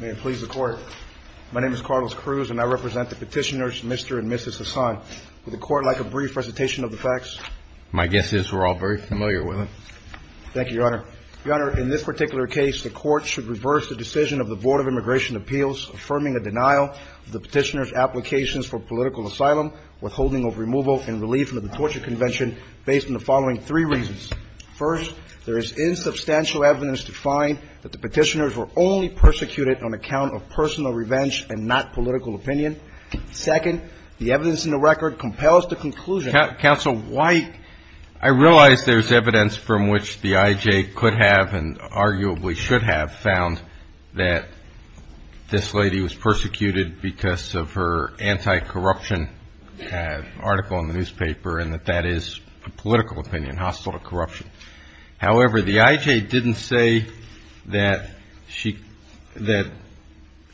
May it please the Court. My name is Carlos Cruz, and I represent the petitioners Mr. and Mrs. Hassan. Would the Court like a brief presentation of the facts? My guess is we're all very familiar with them. Thank you, Your Honor. Your Honor, in this particular case, the Court should reverse the decision of the Board of Immigration Appeals affirming a denial of the petitioners' applications for political asylum, withholding of removal, and relief from the torture convention based on the following three reasons. First, there is insubstantial evidence to find that the petitioners were only persecuted on account of personal revenge and not political opinion. Second, the evidence in the record compels the conclusion Counsel White, I realize there's evidence from which the I.J. could have and arguably should have found that this lady was persecuted because of her anti-corruption article in the newspaper and that that is a political opinion hostile to corruption. However, the I.J. didn't say that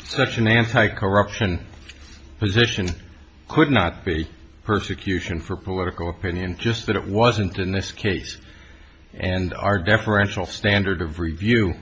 such an anti-corruption position could not be persecution for political opinion, just that it wasn't in this case. And our deferential standard of review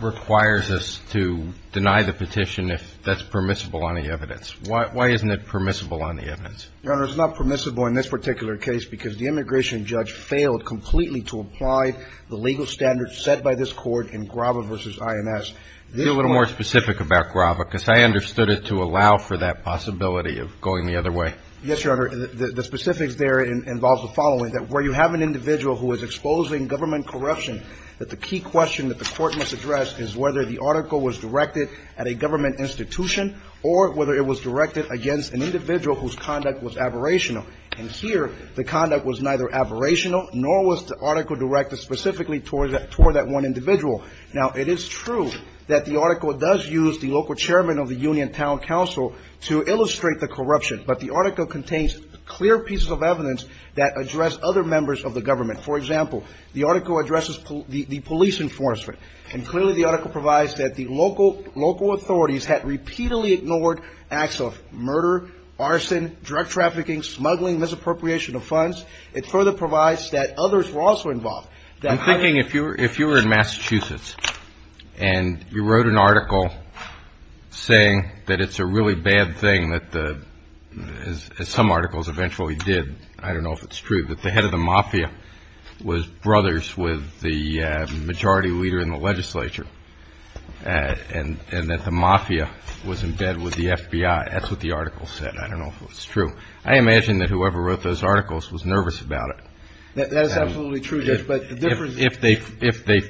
requires us to deny the petition if that's permissible on the evidence. Why isn't it permissible on the evidence? Your Honor, it's not permissible in this particular case because the immigration judge failed completely to apply the legal standards set by this Court in Grava v. I.M.S. Be a little more specific about Grava, because I understood it to allow for that possibility of going the other way. Yes, Your Honor. The specifics there involve the following, that where you have an individual who is exposing government corruption, that the key question that the Court must address is whether the article was directed at a government institution or whether it was directed against an individual whose conduct was aberrational. And here, the conduct was neither aberrational nor was the article directed specifically toward that one individual. Now, it is true that the article does use the local chairman of the Union Town Council to illustrate the corruption, but the article contains clear pieces of evidence that address other members of the government. For example, the article addresses the police enforcement, and clearly the article provides that the local authorities had repeatedly ignored acts of murder, arson, drug trafficking, smuggling, misappropriation of funds. It further provides that others were also involved. I'm thinking if you were in Massachusetts and you wrote an article saying that it's a really bad thing that the, as some articles eventually did, I don't know if it's true, that the head of the mafia was brothers with the majority leader in the legislature and that the mafia was in bed with the FBI. That's what the article said. I don't know if it's true. I imagine that whoever wrote those articles was nervous about it. That is absolutely true, Judge, but the difference is... If they,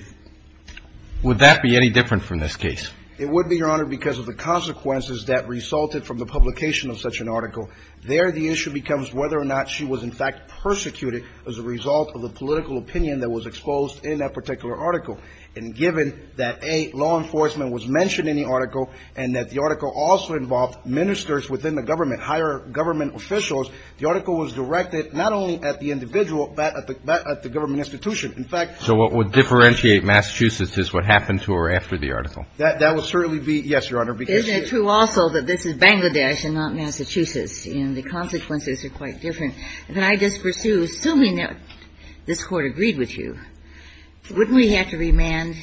would that be any different from this case? It would be, Your Honor, because of the consequences that resulted from the publication of such an article. There, the issue becomes whether or not she was in fact persecuted as a result of the political opinion that was exposed in that particular article. And given that, A, law enforcement was mentioned in the article and that the article also involved ministers within the government, higher government officials, the article was directed not only at the individual, but at the government institution. In fact... So what would differentiate Massachusetts is what happened to her after the article. That would certainly be, yes, Your Honor, because... Isn't it true also that this is Bangladesh and not Massachusetts, and the consequences are quite different? If I just pursue, assuming that this Court agreed with you, wouldn't we have to remand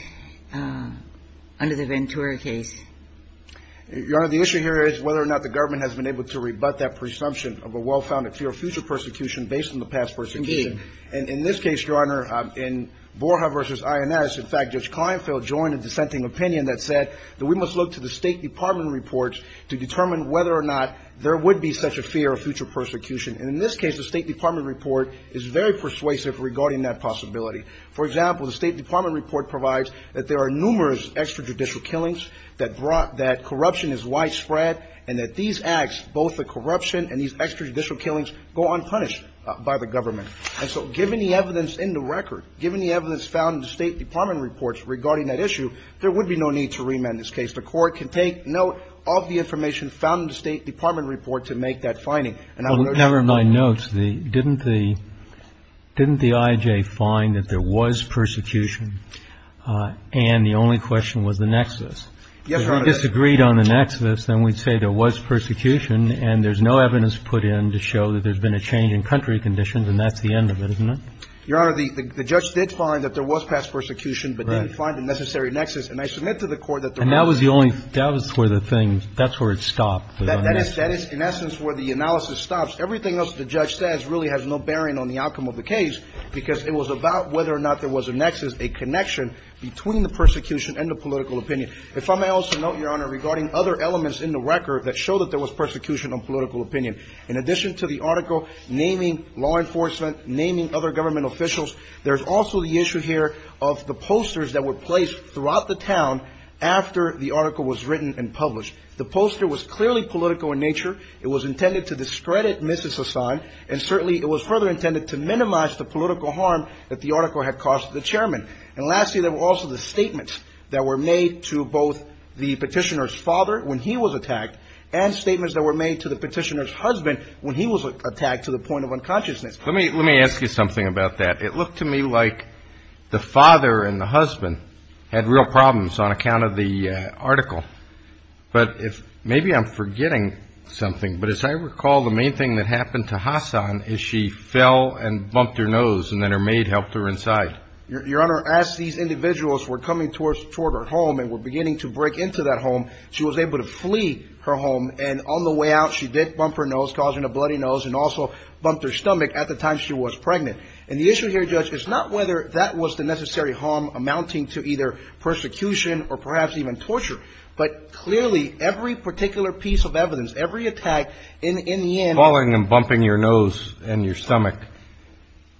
under the Ventura case? Your Honor, the issue here is whether or not the government has been able to rebut that presumption of a well-founded fear of future persecution based on the past persecution. Indeed. And in this case, Your Honor, in Borja v. INS, in fact, Judge Kleinfeld joined a dissenting opinion that said that we must look to the State Department reports to determine whether or not there would be such a fear of future persecution. And in this case, the State Department report is very persuasive regarding that possibility. For example, the State Department report provides that there are numerous extrajudicial killings that brought that corruption is widespread, and that these acts, both the corruption and these extrajudicial killings, go unpunished by the government. And so given the evidence in the record, given the evidence found in the State Department reports regarding that issue, there would be no need to remand this case. The Court can take note of the information found in the State Department report to make that finding. And I would urge the Court to do that. Well, never mind notes. Didn't the I.J. find that there was persecution and the only question was the nexus? Yes, Your Honor. If we disagreed on the nexus, then we'd say there was persecution and there's no evidence put in to show that there's been a change in country conditions, and that's the end of it, isn't it? Your Honor, the judge did find that there was past persecution but didn't find a necessary connection between the persecution and the political opinion. If I may also note, Your Honor, regarding other elements in the record that show that there was persecution on political opinion, in addition to the article naming law enforcement, naming other government officials, there's also the issue here of the posters that were placed throughout the town after the article was published that there was persecution on political opinion, in addition to the article naming The poster was clearly political in nature, it was intended to discredit Mrs. Assange, and certainly it was further intended to minimize the political harm that the article had caused the chairman. And lastly, there were also the statements that were made to both the petitioner's father when he was attacked and statements that were made to the petitioner's husband when he was attacked to the point of unconsciousness. Let me ask you something about that. It looked to me like the father and the husband had real problems on account of the article. But maybe I'm forgetting something, but as I recall, the main thing that happened to Hassan is she fell and bumped her nose, and then her maid helped her inside. Your Honor, as these individuals were coming toward her home and were beginning to break into that home, she was able to flee her home, and on the way out she did bump her nose, causing a bloody nose, and also bumped her stomach at the time she was pregnant. And the issue here, Judge, is not whether that was the necessary harm amounting to either persecution or perhaps even torture, but clearly every particular piece of evidence, every attack, in the end ---- Falling and bumping your nose and your stomach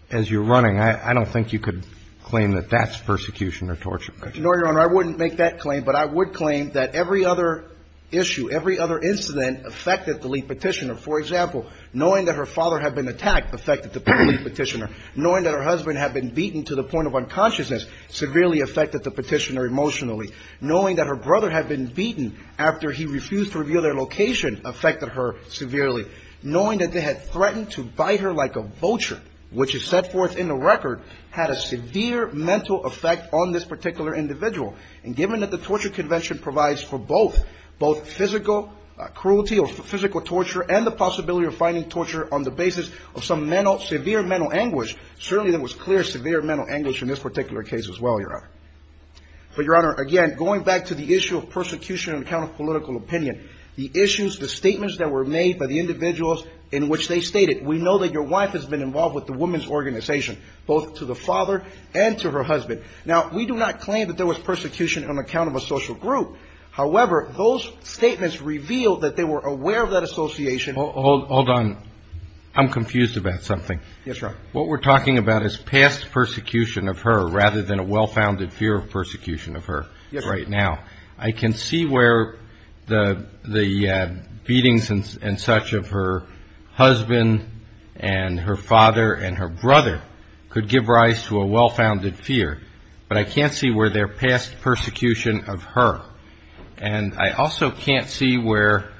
as you're running, I don't think you could claim that that's persecution or torture. No, Your Honor. I wouldn't make that claim, but I would claim that every other issue, every other incident affected the lead petitioner. For example, knowing that her father had been attacked affected the lead petitioner. Knowing that her husband had been beaten to the point of unconsciousness severely affected the petitioner emotionally. Knowing that her brother had been beaten after he refused to reveal their location affected her severely. Knowing that they had threatened to bite her like a vulture, which is set forth in the record, had a severe mental effect on this particular individual. And given that the torture convention provides for both, both physical cruelty or physical torture and the possibility of finding torture on the basis of some severe mental anguish, certainly there was clear severe mental anguish in this particular case as well, Your Honor. But, Your Honor, again, going back to the issue of persecution on account of political opinion, the issues, the statements that were made by the individuals in which they stated, we know that your wife has been involved with the women's organization, both to the father and to her husband. Now, we do not claim that there was persecution on account of a social group. However, those statements revealed that they were aware of that association. Hold on. I'm confused about something. Yes, Your Honor. What we're talking about is past persecution of her rather than a well-founded fear of persecution of her right now. I can see where the beatings and such of her husband and her father and her brother could give rise to a well-founded fear, but I can't see where their past persecution of her. And I also can't see where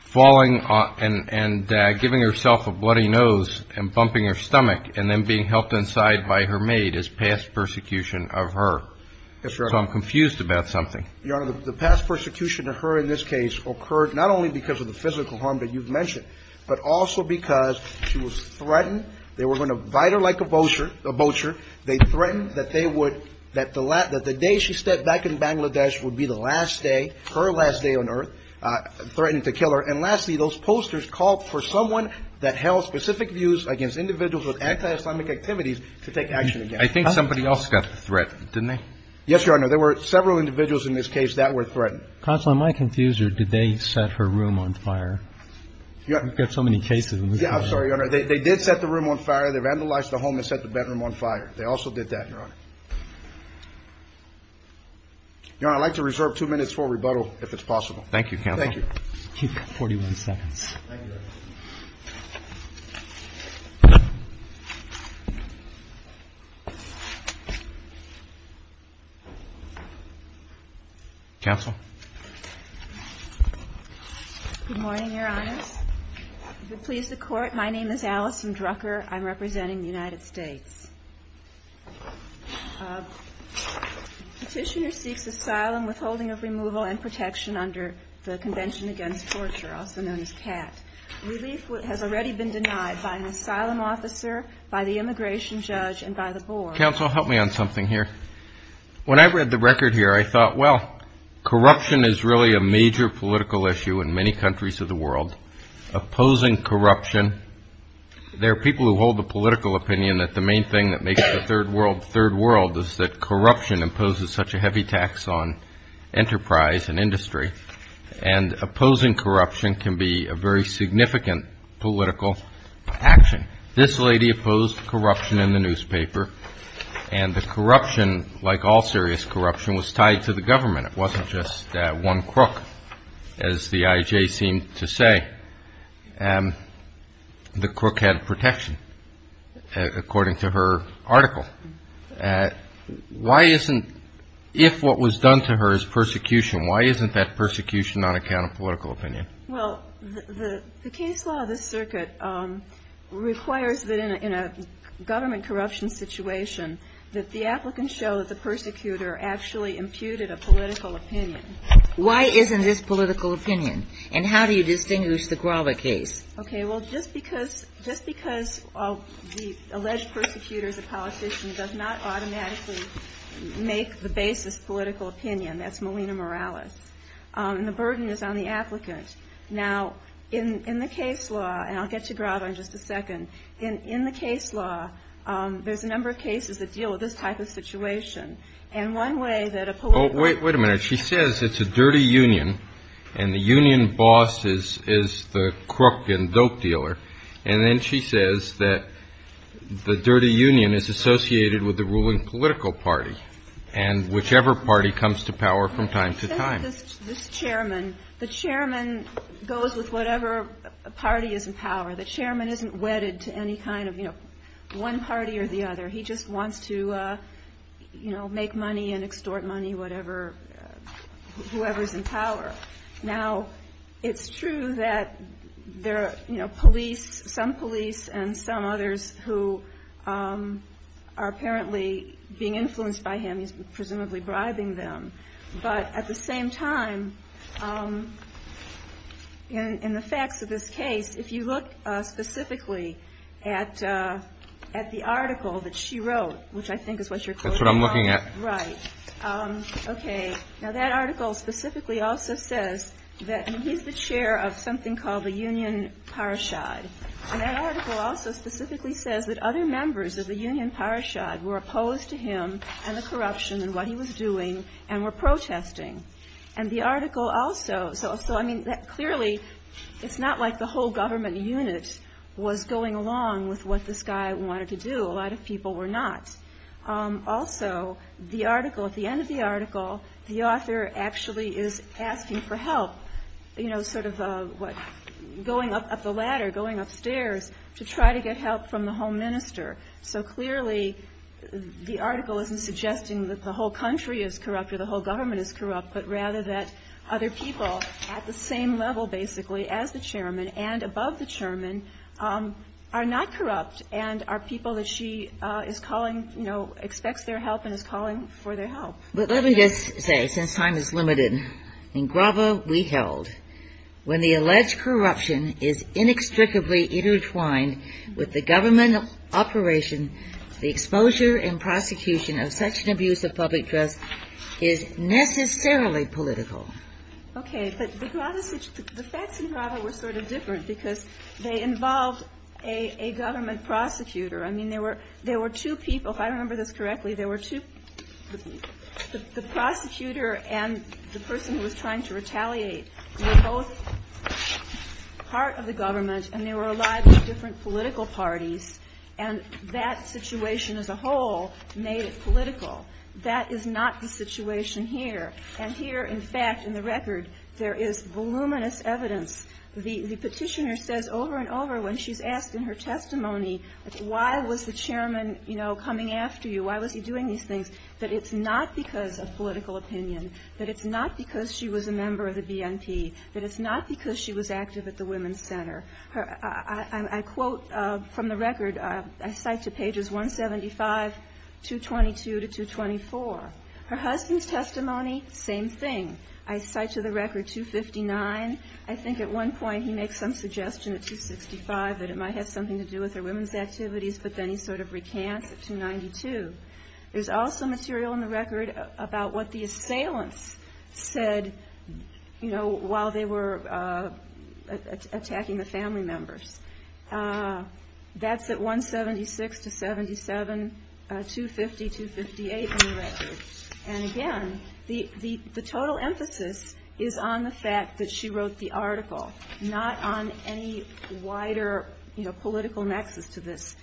falling and giving herself a bloody nose and bumping her stomach and then being helped inside by her maid is past persecution of her. Yes, Your Honor. So I'm confused about something. Your Honor, the past persecution of her in this case occurred not only because of the physical harm that you've mentioned, but also because she was threatened. They were going to bite her like a vulture. They threatened that they would, that the day she stepped back in Bangladesh would be the last day, her last day on earth, threatening to kill her. And lastly, those posters called for someone that held specific views against individuals with anti-Islamic activities to take action against her. I think somebody else got threatened, didn't they? Yes, Your Honor. There were several individuals in this case that were threatened. Counselor, am I confused or did they set her room on fire? We've got so many cases. Yeah, I'm sorry, Your Honor. They did set the room on fire. They vandalized the home and set the bedroom on fire. They also did that, Your Honor. Thank you, Counselor. Thank you. You have 41 seconds. Thank you, Your Honor. Counsel? Good morning, Your Honors. If it pleases the Court, my name is Alison Drucker. I'm representing the United States. Petitioner seeks asylum, withholding of removal and protection under the Convention Against Torture, also known as CAT. Relief has already been denied by an asylum officer, by the immigration judge, and by the board. Counsel, help me on something here. When I read the record here, I thought, well, corruption is really a major political issue in many countries of the world. Opposing corruption, there are people who hold the political opinion that the main thing that makes the third world the third world is that corruption imposes such a heavy tax on enterprise and industry. And opposing corruption can be a very significant political action. This lady opposed corruption in the newspaper, and the corruption, like all serious corruption, was tied to the government. It wasn't just one crook, as the IJ seemed to say. The crook had protection, according to her article. But why isn't, if what was done to her is persecution, why isn't that persecution on account of political opinion? Well, the case law of this circuit requires that in a government corruption situation, that the applicant show that the persecutor actually imputed a political opinion. Why isn't this political opinion? And how do you distinguish the Grava case? Okay, well, just because the alleged persecutor is a politician does not automatically make the basis political opinion. That's Molina Morales. And the burden is on the applicant. Now, in the case law, and I'll get to Grava in just a second, in the case law, there's a number of cases that deal with this type of situation. And one way that a political ---- Oh, wait a minute. She says it's a dirty union, and the union boss is the crook and dope dealer. And then she says that the dirty union is associated with the ruling political party, and whichever party comes to power from time to time. This chairman, the chairman goes with whatever party is in power. The chairman isn't wedded to any kind of, you know, one party or the other. He just wants to, you know, make money and extort money, whatever, whoever's in power. Now, it's true that there are, you know, police, some police and some others who are apparently being influenced by him. He's presumably bribing them. But at the same time, in the facts of this case, if you look specifically at the article that she wrote, which I think is what you're quoting. That's what I'm looking at. Right. Okay. Now, that article specifically also says that he's the chair of something called the Union Parashad. And that article also specifically says that other members of the Union Parashad were opposed to him and the corruption and what he was doing and were protesting. And the article also, so I mean, clearly, it's not like the whole government unit was going along with what this guy wanted to do. A lot of people were not. Also, the article, at the end of the article, the author actually is asking for help, you know, sort of going up the ladder, going upstairs to try to get help from the home minister. So clearly, the article isn't suggesting that the whole country is corrupt or the whole government is corrupt, but rather that other people at the same level basically as the chairman and above the chairman are not corrupt and are people that she is calling, you know, expects their help and is calling for their help. But let me just say, since time is limited, in Grava we held, when the alleged corruption is inextricably intertwined with the government operation, the exposure and prosecution of such an abuse of public trust is necessarily political. Okay. But the facts in Grava were sort of different because they involved a government prosecutor. I mean, there were two people, if I remember this correctly, there were two, the prosecutor and the person who was trying to retaliate were both part of the government and they were allied with different political parties, and that situation as a whole made it political. That is not the situation here. And here, in fact, in the record, there is voluminous evidence. The Petitioner says over and over when she's asked in her testimony, why was the chairman, you know, coming after you? Why was he doing these things? That it's not because of political opinion, that it's not because she was a member of the BNP, that it's not because she was active at the Women's Center. I quote from the record, I cite to pages 175, 222 to 224. Her husband's testimony, same thing. I cite to the record 259. I think at one point he makes some suggestion at 265 that it might have something to do with her women's activities, but then he sort of recants at 292. There's also material in the record about what the assailants said, you know, while they were attacking the family members. That's at 176 to 77, 250, 258 in the record. And again, the total emphasis is on the fact that she wrote the article, not on any wider, you know, political nexus to this.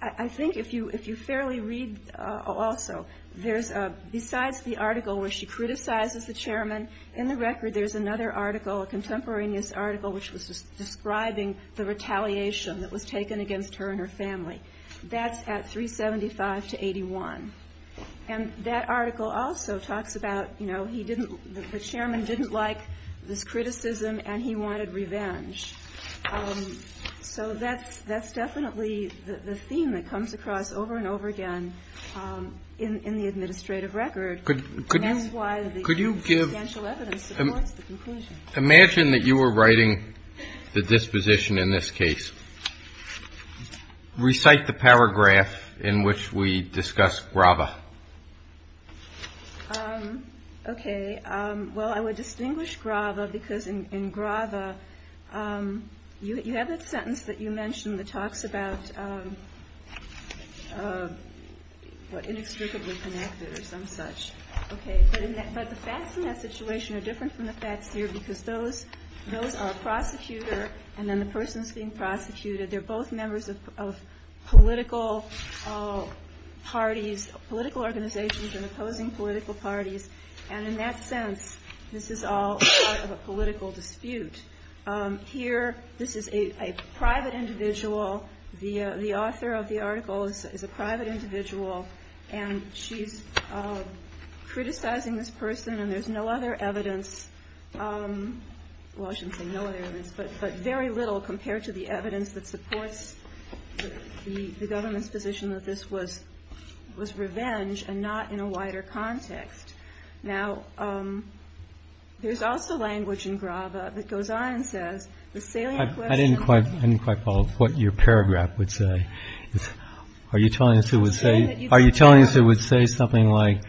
I think if you fairly read also, there's a, besides the article where she criticizes the chairman, in the record there's another article, a contemporaneous article, which was describing the retaliation that was taken against her and her family. That's at 375 to 81. And that article also talks about, you know, he didn't, the chairman didn't like this criticism and he wanted revenge. So that's definitely the theme that comes across over and over again in the administrative record. And that's why the substantial evidence supports the conclusion. Imagine that you were writing the disposition in this case. Recite the paragraph in which we discuss Grava. Okay. Well, I would distinguish Grava because in Grava, you have that sentence that you mentioned that talks about inextricably connected or some such. Okay. But the facts in that situation are different from the facts here because those are a prosecutor and then the person's being prosecuted. They're both members of political parties, political organizations and opposing political parties. And in that sense, this is all part of a political dispute. Here, this is a private individual. The author of the article is a private individual. And she's criticizing this person and there's no other evidence. Well, I shouldn't say no other evidence, but very little compared to the evidence that supports the government's position that this was revenge and not in a wider context. Now, there's also language in Grava that goes on and says the salient question. I didn't quite follow what your paragraph would say. Are you telling us it would say something like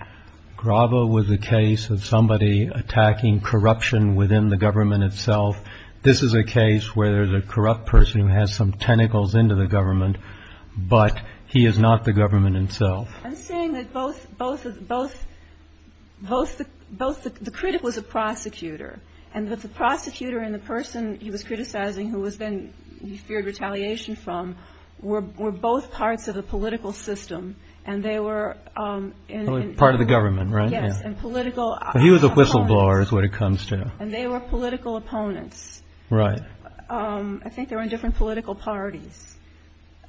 Grava was a case of somebody attacking corruption within the government itself? This is a case where there's a corrupt person who has some tentacles into the government, but he is not the government itself. I'm saying that both the critic was a prosecutor and that the prosecutor and the person he was criticizing, who was then feared retaliation from were both parts of the political system. And they were part of the government. Right. Yes. And political. He was a whistleblower is what it comes to. And they were political opponents. Right. I think they were in different political parties.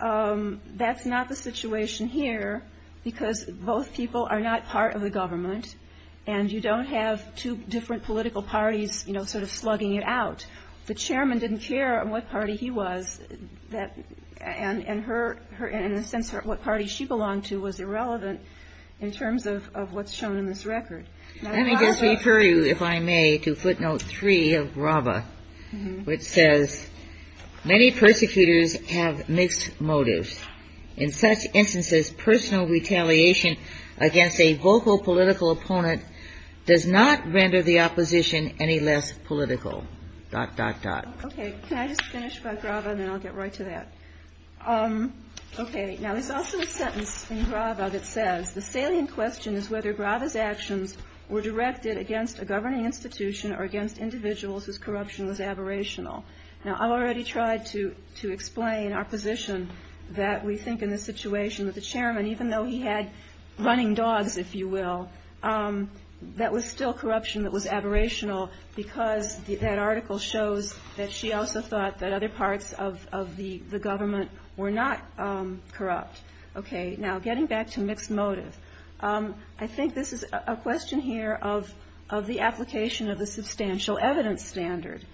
That's not the situation here because both people are not part of the government. And you don't have two different political parties, you know, sort of slugging it out. The chairman didn't care what party he was. And in a sense, what party she belonged to was irrelevant in terms of what's shown in this record. Let me just refer you, if I may, to footnote 3 of Grava, which says many persecutors have mixed motives. In such instances, personal retaliation against a vocal political opponent does not render the opposition any less political. Dot, dot, dot. OK. Can I just finish by Grava and then I'll get right to that. OK. Now, there's also a sentence in Grava that says the salient question is whether Grava's actions were directed against a governing institution or against individuals whose corruption was aberrational. Now, I've already tried to to explain our position that we think in the situation with the chairman, even though he had running dogs, if you will, that was still corruption that was aberrational because that article shows that she also thought that other parts of the government were not corrupt. OK. Now, getting back to mixed motive, I think this is a question here of of the application of the substantial evidence standard.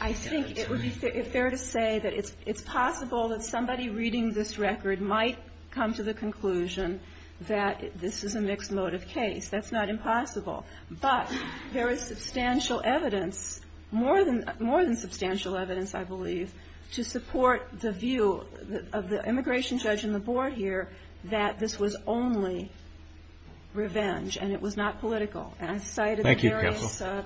I think it would be fair to say that it's it's possible that somebody reading this record might come to the conclusion that this is a mixed motive case. That's not impossible. But there is substantial evidence, more than more than substantial evidence, I believe, to support the view of the immigration judge and the board here that this was only revenge and it was not political. Thank you, counsel.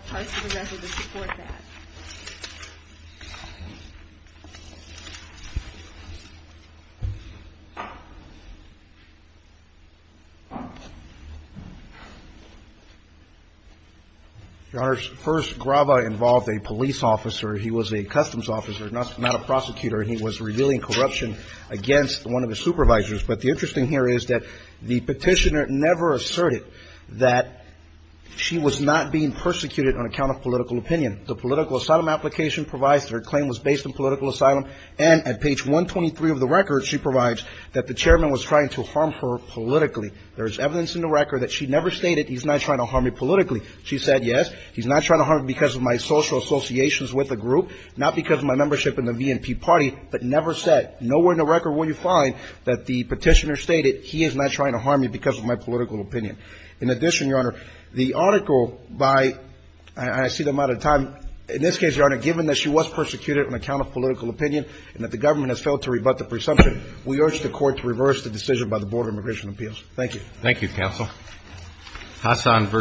Your Honor, first, Grava involved a police officer. He was a customs officer, not a prosecutor, and he was revealing corruption against one of the supervisors. But the interesting here is that the petitioner never asserted that she was not being persecuted on account of political opinion. The political asylum application provides her claim was based on political asylum. And at page 123 of the record, she provides that the chairman was trying to harm her politically. There is evidence in the record that she never stated he's not trying to harm me politically. She said, yes, he's not trying to harm me because of my social associations with the group, not because of my membership in the VNP party, but never said. Nowhere in the record will you find that the petitioner stated he is not trying to harm me because of my political opinion. In addition, Your Honor, the article by – and I see the amount of time – in this case, Your Honor, given that she was persecuted on account of political opinion and that the government has failed to rebut the presumption, we urge the Court to reverse the decision by the Board of Immigration Appeals. Thank you. Thank you, counsel. Hassan v. Ashcroft is submitted.